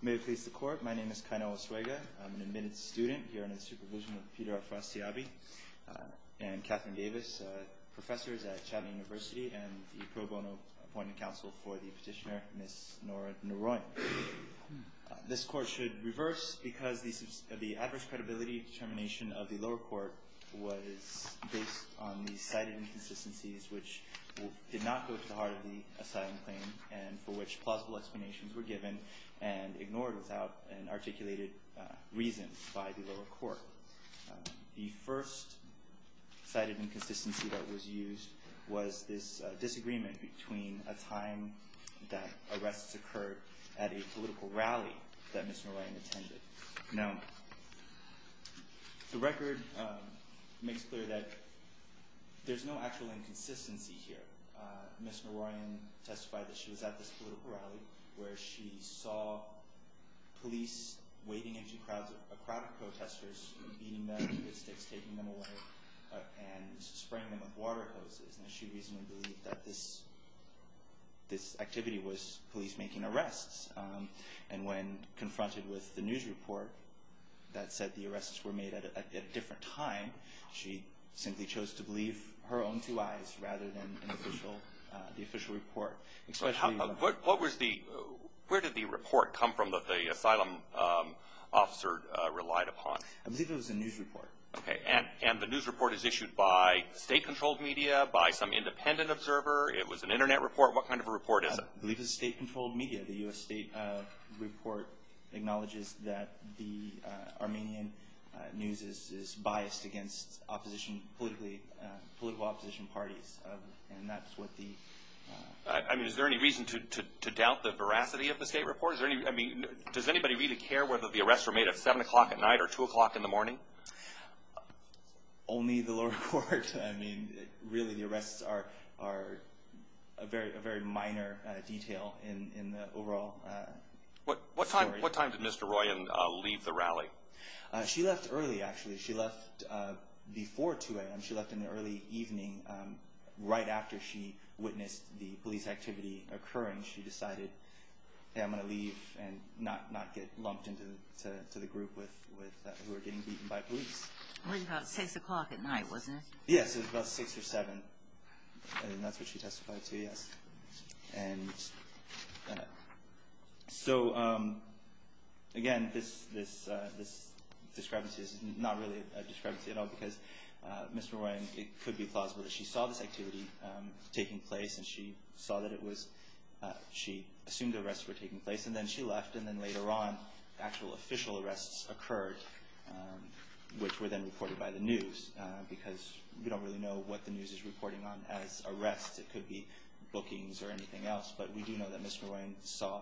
May it please the court, my name is Kaino Oswega. I'm an admitted student here under the supervision of Peter Afras-Tiabi and Catherine Davis, professors at Chattanooga University and the pro bono appointment counsel for the petitioner, Ms. Nora Noroyan. This court should reverse because the adverse credibility determination of the lower court was based on the cited inconsistencies which did not go to the heart of the asylum claim and for which plausible explanations were given and ignored without an articulated reason by the lower court. The first cited inconsistency that was used was this disagreement between a time that arrests occurred at a political rally that Ms. Noroyan attended. Now, the record makes clear that there's no actual inconsistency here. Ms. Noroyan testified that she was at this political rally where she saw police wading into crowds of protestors, beating them with sticks, taking them away and spraying them with water hoses and she reasonably believed that this activity was police making arrests and when confronted with the news report that said the arrests were made at a different time, she simply chose to believe her own two eyes rather than the official report. Where did the report come from that the asylum officer relied upon? I believe it was a news report. And the news report is issued by state controlled media, by some independent observer, it was an internet report, what kind of a report is it? I believe it was state controlled media. The U.S. state report acknowledges that the Armenian news is biased against political opposition parties. Is there any reason to doubt the veracity of the state report? Does anybody really care whether the arrests were made at 7 o'clock at night or 2 o'clock in the morning? Only the lower court. Really the arrests are a very minor detail in the overall story. What time did Mr. Royan leave the rally? She left early actually. She left before 2 a.m. She left in the early evening right after she witnessed the police activity occurring. She decided I'm going to leave and not get lumped into the group who were getting beaten by police. It was about 6 o'clock at night, wasn't it? Yes, it was about 6 or 7. And that's what she testified to, yes. And so again, this discrepancy is not really a discrepancy at all because Mr. Royan, it could be plausible that she saw this activity taking place and she saw that it was, she assumed the arrests were taking place and then she left and then later on actual official arrests occurred which were then reported by the news because we don't really know what the news is reporting on as arrests. It could be bookings or anything else. But we do know that Mr. Royan saw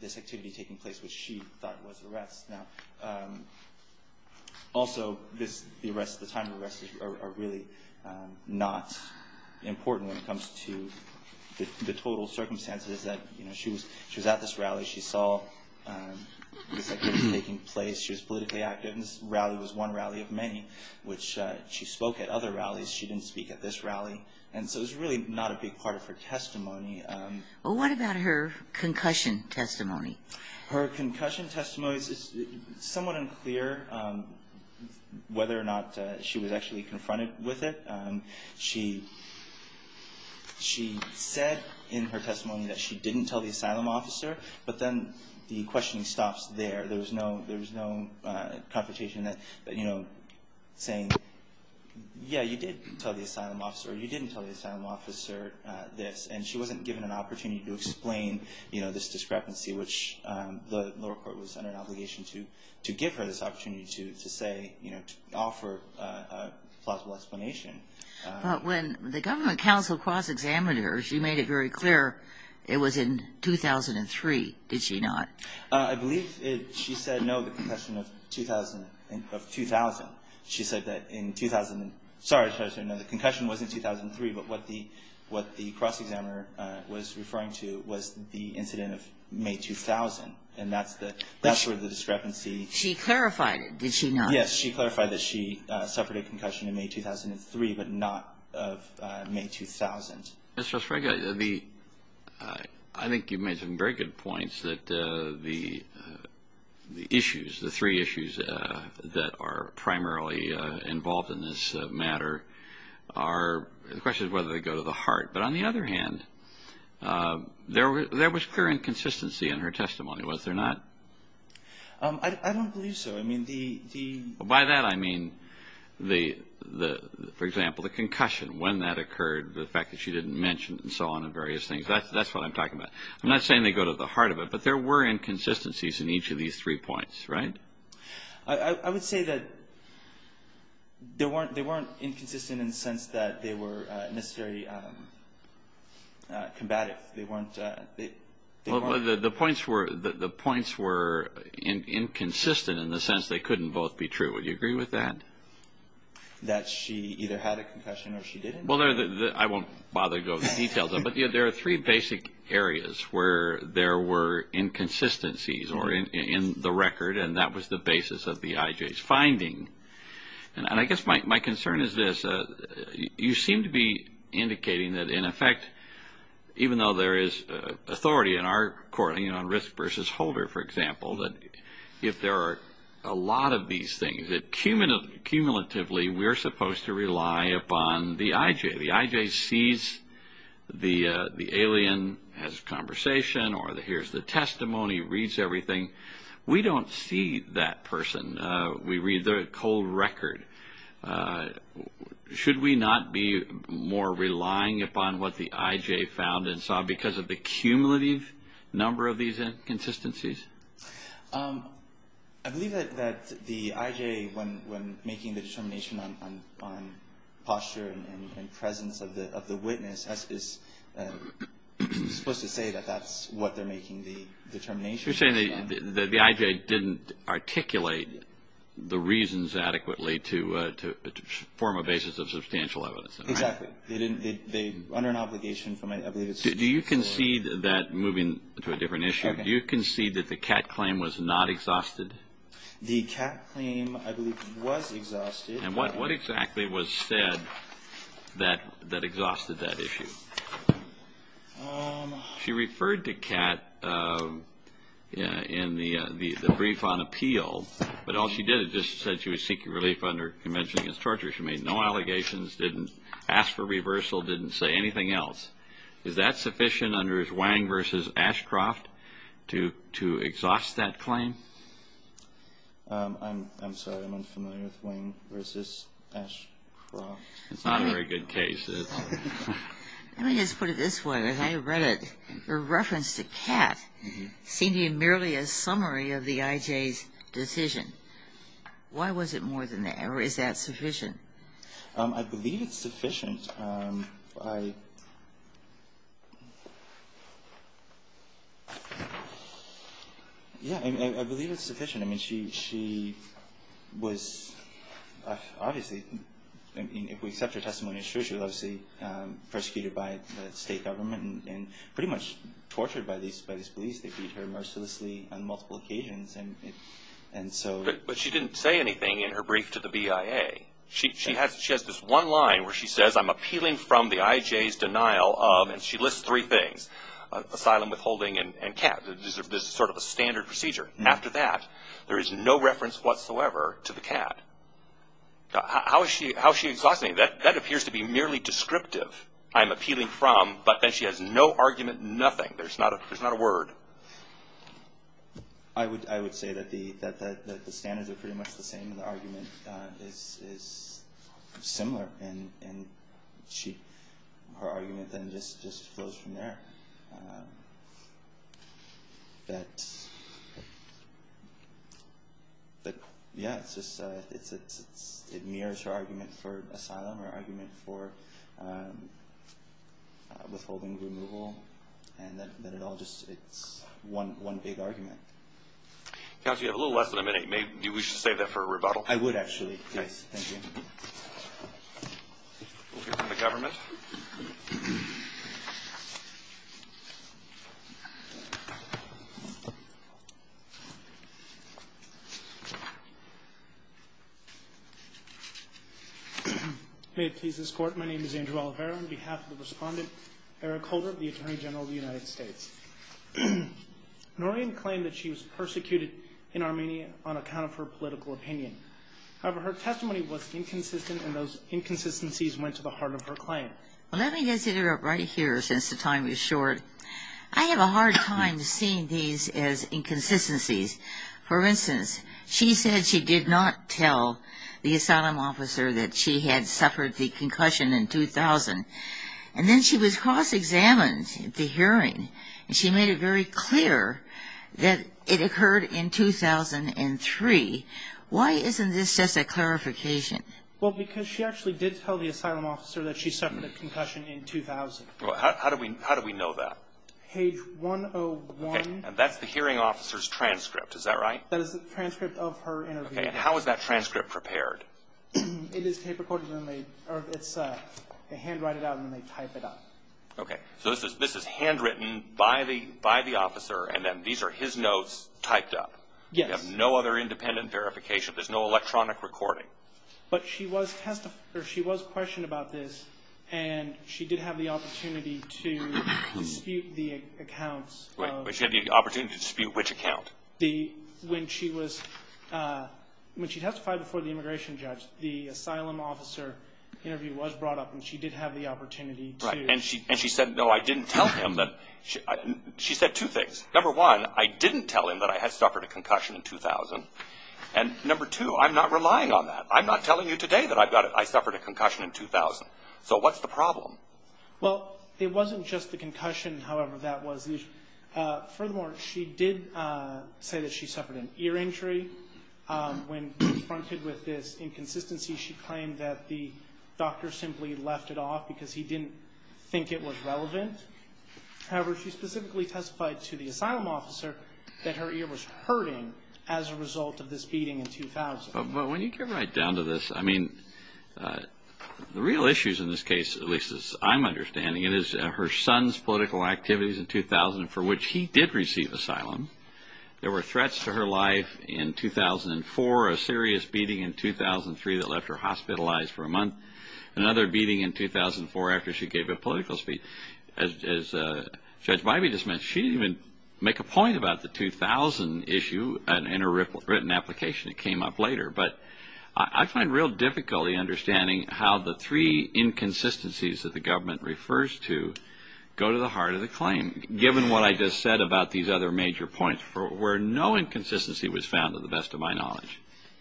this activity taking place which she thought was arrests. Now also, the time of arrests are really not important when it comes to the total circumstances that, you know, she was at this rally. She saw this activity taking place. She was politically active and this rally was one rally of many which she spoke at other rallies. She didn't speak at this rally. And so it's really not a big part of her testimony. Well, what about her concussion testimony? Her concussion testimony is somewhat unclear whether or not she was actually confronted with it. She said in her testimony that she didn't tell the asylum officer. But then the questioning stops there. There was no confrontation that, you know, saying, yeah, you did tell the asylum officer or you didn't tell the asylum officer this. And she wasn't given an opportunity to explain, you know, this discrepancy which the lower to say, you know, to offer a plausible explanation. But when the government counsel cross-examined her, she made it very clear it was in 2003, did she not? I believe she said no, the concussion of 2000. She said that in 2000, sorry, the concussion was in 2003. But what the cross-examiner was referring to was the incident of May 2000. And that's where the discrepancy. She clarified it, did she not? Yes. She clarified that she suffered a concussion in May 2003, but not of May 2000. Mr. Osprecha, the – I think you've made some very good points that the issues, the three issues that are primarily involved in this matter are – the question is whether they go to the heart. But on the other hand, there was clear inconsistency in her testimony, was there not? I don't believe so. I mean, the – By that I mean, for example, the concussion, when that occurred, the fact that she didn't mention and so on and various things. That's what I'm talking about. I'm not saying they go to the heart of it, but there were inconsistencies in each of these three points, right? I would say that they weren't inconsistent in the sense that they were necessarily combative. The points were inconsistent in the sense they couldn't both be true. Would you agree with that? That she either had a concussion or she didn't? Well, I won't bother to go into the details, but there are three basic areas where there were inconsistencies in the record, and that was the basis of the IJ's finding. And I guess my concern is this. You seem to be indicating that, in effect, even though there is authority in our court, you know, on risk versus holder, for example, that if there are a lot of these things, that cumulatively we're supposed to rely upon the IJ. The IJ sees the alien, has a conversation, or hears the testimony, reads everything. We don't see that person. We read the cold record. Should we not be more relying upon what the IJ found and saw because of the cumulative number of these inconsistencies? I believe that the IJ, when making the determination on posture and presence of the witness, is supposed to say that that's what they're making the determination on. So you're saying that the IJ didn't articulate the reasons adequately to form a basis of substantial evidence. Exactly. They didn't. They, under an obligation from, I believe it's... Do you concede that, moving to a different issue, do you concede that the Catt claim was not exhausted? The Catt claim, I believe, was exhausted. And what exactly was said that exhausted that issue? She referred to Catt in the brief on appeal, but all she did is just said she was seeking relief under Convention Against Torture. She made no allegations, didn't ask for reversal, didn't say anything else. Is that sufficient under Wang v. Ashcroft to exhaust that claim? I'm sorry, I'm unfamiliar with Wang v. Ashcroft. It's not a very good case. Let me just put it this way. Her reference to Catt seemed to be merely a summary of the IJ's decision. Why was it more than that? Or is that sufficient? I believe it's sufficient. Yeah, I believe it's sufficient. I mean, she was obviously, if we accept her testimony as true, she was obviously persecuted by the state government and pretty much tortured by these police. They beat her mercilessly on multiple occasions. But she didn't say anything in her brief to the BIA. She has this one line where she says, I'm appealing from the IJ's denial of, and she lists three things, asylum withholding and Catt. This is sort of a standard procedure. After that, there is no reference whatsoever to the Catt. How is she exhausting that? That appears to be merely descriptive. I'm appealing from, but then she has no argument, nothing. There's not a word. I would say that the standards are pretty much the same. The argument is similar. Her argument then just flows from there. Yeah, it mirrors her argument for asylum or argument for withholding removal. It's one big argument. Counsel, you have a little less than a minute. Maybe we should save that for a rebuttal. I would, actually. Yes, thank you. We'll hear from the government. May it please this Court, my name is Andrew Oliveira. On behalf of the respondent, Eric Holder, the Attorney General of the United States. Noreen claimed that she was persecuted in Armenia on account of her political opinion. However, her testimony was inconsistent, and those inconsistencies went to the heart of her claim. Well, let me just interrupt right here since the time is short. I have a hard time seeing these as inconsistencies. For instance, she said she did not tell the asylum officer that she had suffered the concussion in 2000. And then she was cross-examined at the hearing, and she made it very clear that it occurred in 2003. Why isn't this just a clarification? Well, because she actually did tell the asylum officer that she suffered a concussion in 2000. Well, how do we know that? Page 101. Okay. And that's the hearing officer's transcript, is that right? That is the transcript of her interview. Okay. And how is that transcript prepared? It is paper-coded, and they handwrite it out, and they type it up. Okay. So this is handwritten by the officer, and then these are his notes typed up? Yes. We have no other independent verification. There's no electronic recording. But she was questioned about this, and she did have the opportunity to dispute the accounts. She had the opportunity to dispute which account? When she testified before the immigration judge, the asylum officer interview was brought up, and she did have the opportunity to. Right. And she said, no, I didn't tell him that. She said two things. Number one, I didn't tell him that I had suffered a concussion in 2000. And number two, I'm not relying on that. I'm not telling you today that I suffered a concussion in 2000. So what's the problem? Well, it wasn't just the concussion, however that was. Furthermore, she did say that she suffered an ear injury. When confronted with this inconsistency, she claimed that the doctor simply left it off because he didn't think it was relevant. However, she specifically testified to the asylum officer that her ear was hurting as a result of this beating in 2000. But when you get right down to this, I mean, the real issues in this case, at least as I'm understanding it, is her son's political activities in 2000 for which he did receive asylum. There were threats to her life in 2004, a serious beating in 2003 that left her hospitalized for a month, another beating in 2004 after she gave a political speech. And as Judge Bybee just mentioned, she didn't even make a point about the 2000 issue in her written application. It came up later. But I find it real difficult in understanding how the three inconsistencies that the government refers to go to the heart of the claim, given what I just said about these other major points where no inconsistency was found to the best of my knowledge.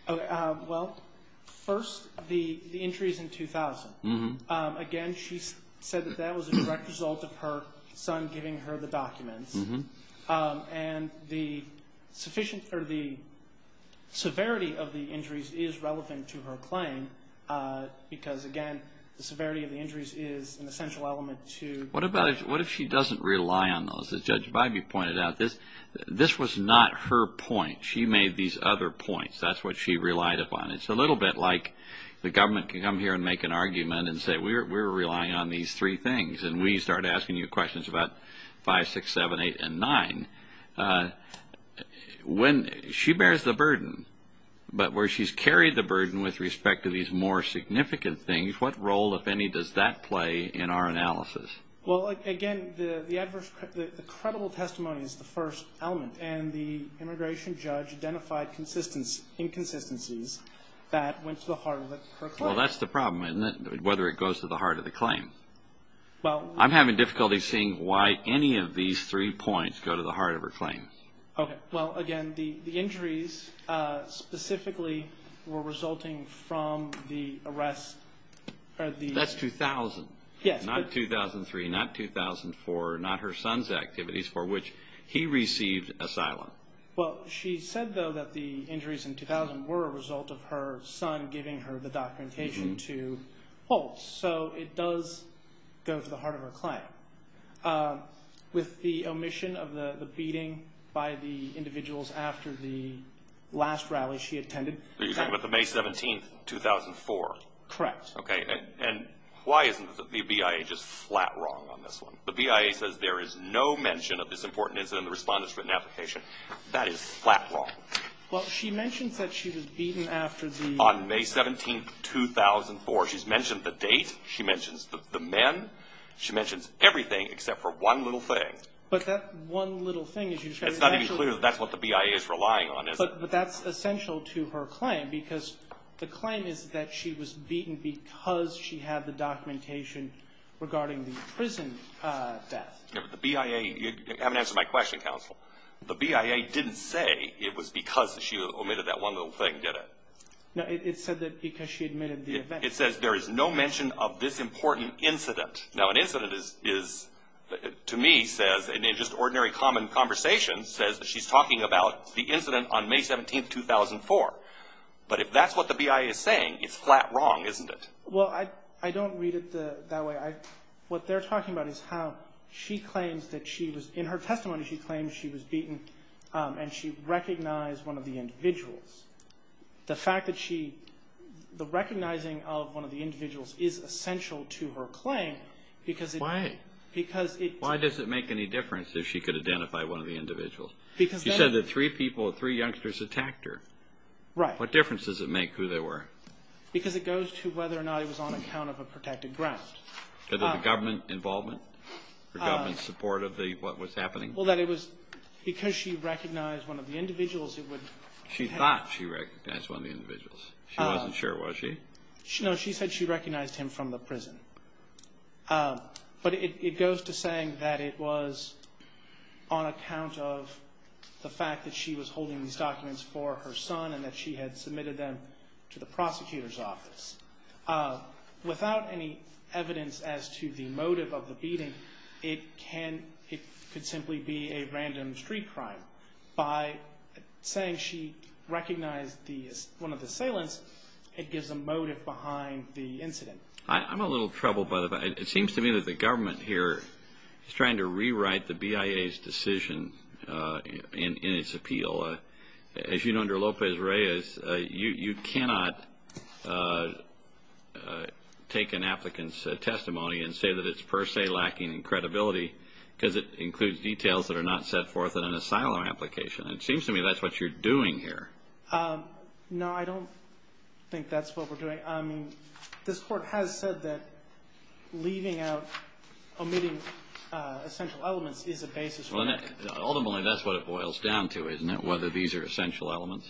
Well, first, the injuries in 2000. Again, she said that that was a direct result of her son giving her the documents. And the severity of the injuries is relevant to her claim because, again, the severity of the injuries is an essential element to the claim. What if she doesn't rely on those? As Judge Bybee pointed out, this was not her point. She made these other points. That's what she relied upon. It's a little bit like the government can come here and make an argument and say we're relying on these three things, and we start asking you questions about 5, 6, 7, 8, and 9. She bears the burden, but where she's carried the burden with respect to these more significant things, what role, if any, does that play in our analysis? Well, again, the credible testimony is the first element. And the immigration judge identified inconsistencies that went to the heart of her claim. Well, that's the problem, isn't it, whether it goes to the heart of the claim? I'm having difficulty seeing why any of these three points go to the heart of her claim. Okay. Well, again, the injuries specifically were resulting from the arrest. That's 2000. Yes. Not 2003, not 2004, not her son's activities for which he received asylum. Well, she said, though, that the injuries in 2000 were a result of her son giving her the documentation to Holtz. So it does go to the heart of her claim. With the omission of the beating by the individuals after the last rally she attended. Are you talking about the May 17th, 2004? Correct. Okay. And why isn't the BIA just flat wrong on this one? The BIA says there is no mention of this important incident in the Respondent's written application. That is flat wrong. Well, she mentions that she was beaten after the May 17th, 2004. She's mentioned the date. She mentions the men. She mentions everything except for one little thing. But that one little thing, as you say, is actually. It's not even clear that that's what the BIA is relying on, is it? But that's essential to her claim because the claim is that she was beaten because she had the documentation regarding the prison death. The BIA, you haven't answered my question, counsel. The BIA didn't say it was because she omitted that one little thing, did it? No, it said that because she omitted the event. It says there is no mention of this important incident. Now, an incident is, to me, says, in just ordinary common conversation, says that she's talking about the incident on May 17th, 2004. But if that's what the BIA is saying, it's flat wrong, isn't it? Well, I don't read it that way. What they're talking about is how she claims that she was. In her testimony, she claims she was beaten and she recognized one of the individuals. The fact that she, the recognizing of one of the individuals is essential to her claim because it. Why? Because it. Why does it make any difference if she could identify one of the individuals? Because then. She said that three people, three youngsters attacked her. Right. What difference does it make who they were? Because it goes to whether or not it was on account of a protected ground. Because of the government involvement or government support of the, what was happening? Well, that it was, because she recognized one of the individuals, it would. She thought she recognized one of the individuals. She wasn't sure, was she? No, she said she recognized him from the prison. But it goes to saying that it was on account of the fact that she was holding these documents for her son and that she had submitted them to the prosecutor's office. Without any evidence as to the motive of the beating, it can, it could simply be a random street crime. By saying she recognized one of the assailants, it gives a motive behind the incident. I'm a little troubled by the fact. It seems to me that the government here is trying to rewrite the BIA's decision in its appeal. As you know, under Lopez Reyes, you cannot take an applicant's testimony and say that it's per se lacking in credibility because it includes details that are not set forth in an asylum application. It seems to me that's what you're doing here. No, I don't think that's what we're doing. I mean, this Court has said that leaving out, omitting essential elements is a basis for that. Ultimately, that's what it boils down to, isn't it, whether these are essential elements?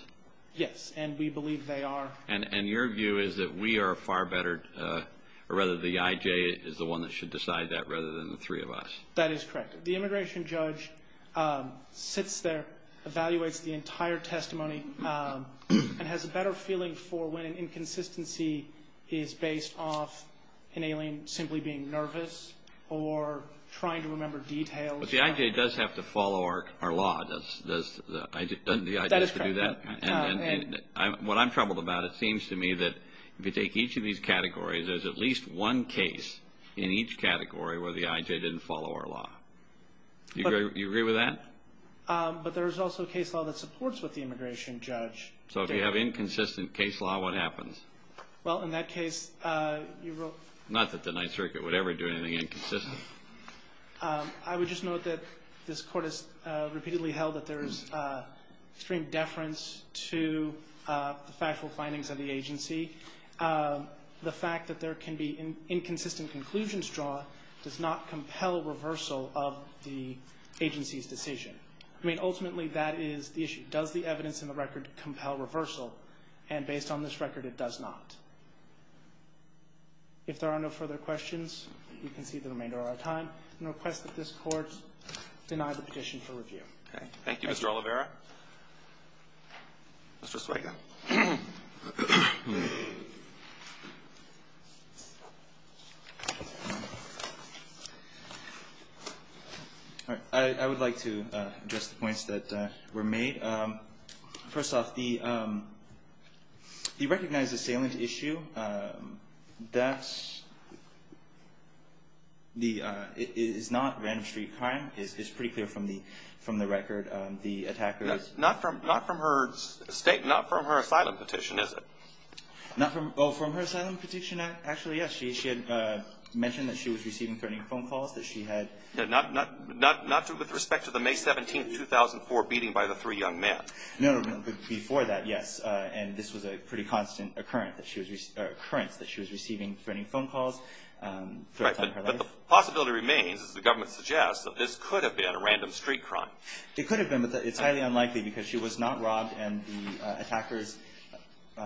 Yes, and we believe they are. And your view is that we are far better, or rather the IJ is the one that should decide that rather than the three of us. That is correct. The immigration judge sits there, evaluates the entire testimony, and has a better feeling for when an inconsistency is based off an alien simply being nervous or trying to remember details. But the IJ does have to follow our law. Doesn't the IJ have to do that? That is correct. What I'm troubled about, it seems to me that if you take each of these categories, there's at least one case in each category where the IJ didn't follow our law. Do you agree with that? But there's also a case law that supports what the immigration judge did. So if you have inconsistent case law, what happens? Well, in that case, you wrote – Not that the Ninth Circuit would ever do anything inconsistent. I would just note that this Court has repeatedly held that there is extreme deference to the factual findings of the agency. The fact that there can be inconsistent conclusions draw does not compel reversal of the agency's decision. I mean, ultimately, that is the issue. Does the evidence in the record compel reversal? And based on this record, it does not. If there are no further questions, we can see the remainder of our time and request that this Court deny the petition for review. Thank you, Mr. Oliveira. Mr. Sueika. I would like to address the points that were made. First off, the recognized assailant issue, that is not random street crime. It's pretty clear from the record. Not from her statement, not from her asylum petition, is it? Oh, from her asylum petition? Actually, yes. She had mentioned that she was receiving threatening phone calls, that she had – Not with respect to the May 17, 2004 beating by the three young men. No, no, no. Before that, yes. And this was a pretty constant occurrence that she was receiving threatening phone calls throughout her life. But the possibility remains, as the government suggests, that this could have been a random street crime. It could have been, but it's highly unlikely because she was not robbed and the attackers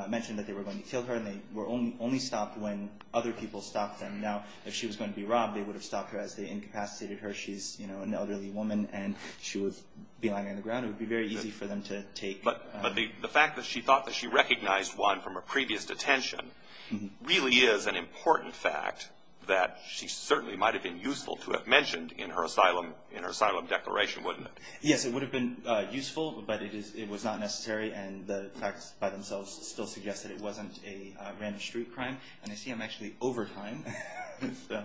mentioned that they were going to kill her and they were only stopped when other people stopped them. Now, if she was going to be robbed, they would have stopped her as they incapacitated her. She's, you know, an elderly woman and she would be lying on the ground. It would be very easy for them to take – But the fact that she thought that she recognized one from her previous detention really is an important fact that she certainly might have been useful to have mentioned in her asylum declaration, wouldn't it? Yes, it would have been useful, but it was not necessary and the facts by themselves still suggest that it wasn't a random street crime. And I see I'm actually over time, so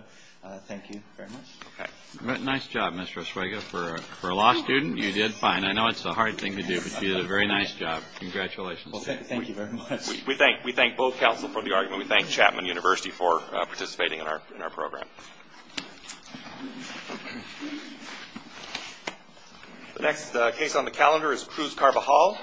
thank you very much. Okay. Nice job, Mr. Oswego. For a law student, you did fine. I know it's a hard thing to do, but you did a very nice job. Congratulations. Thank you very much. We thank both counsel for the argument. And we thank Chapman University for participating in our program. The next case on the calendar is Cruz Carbajal.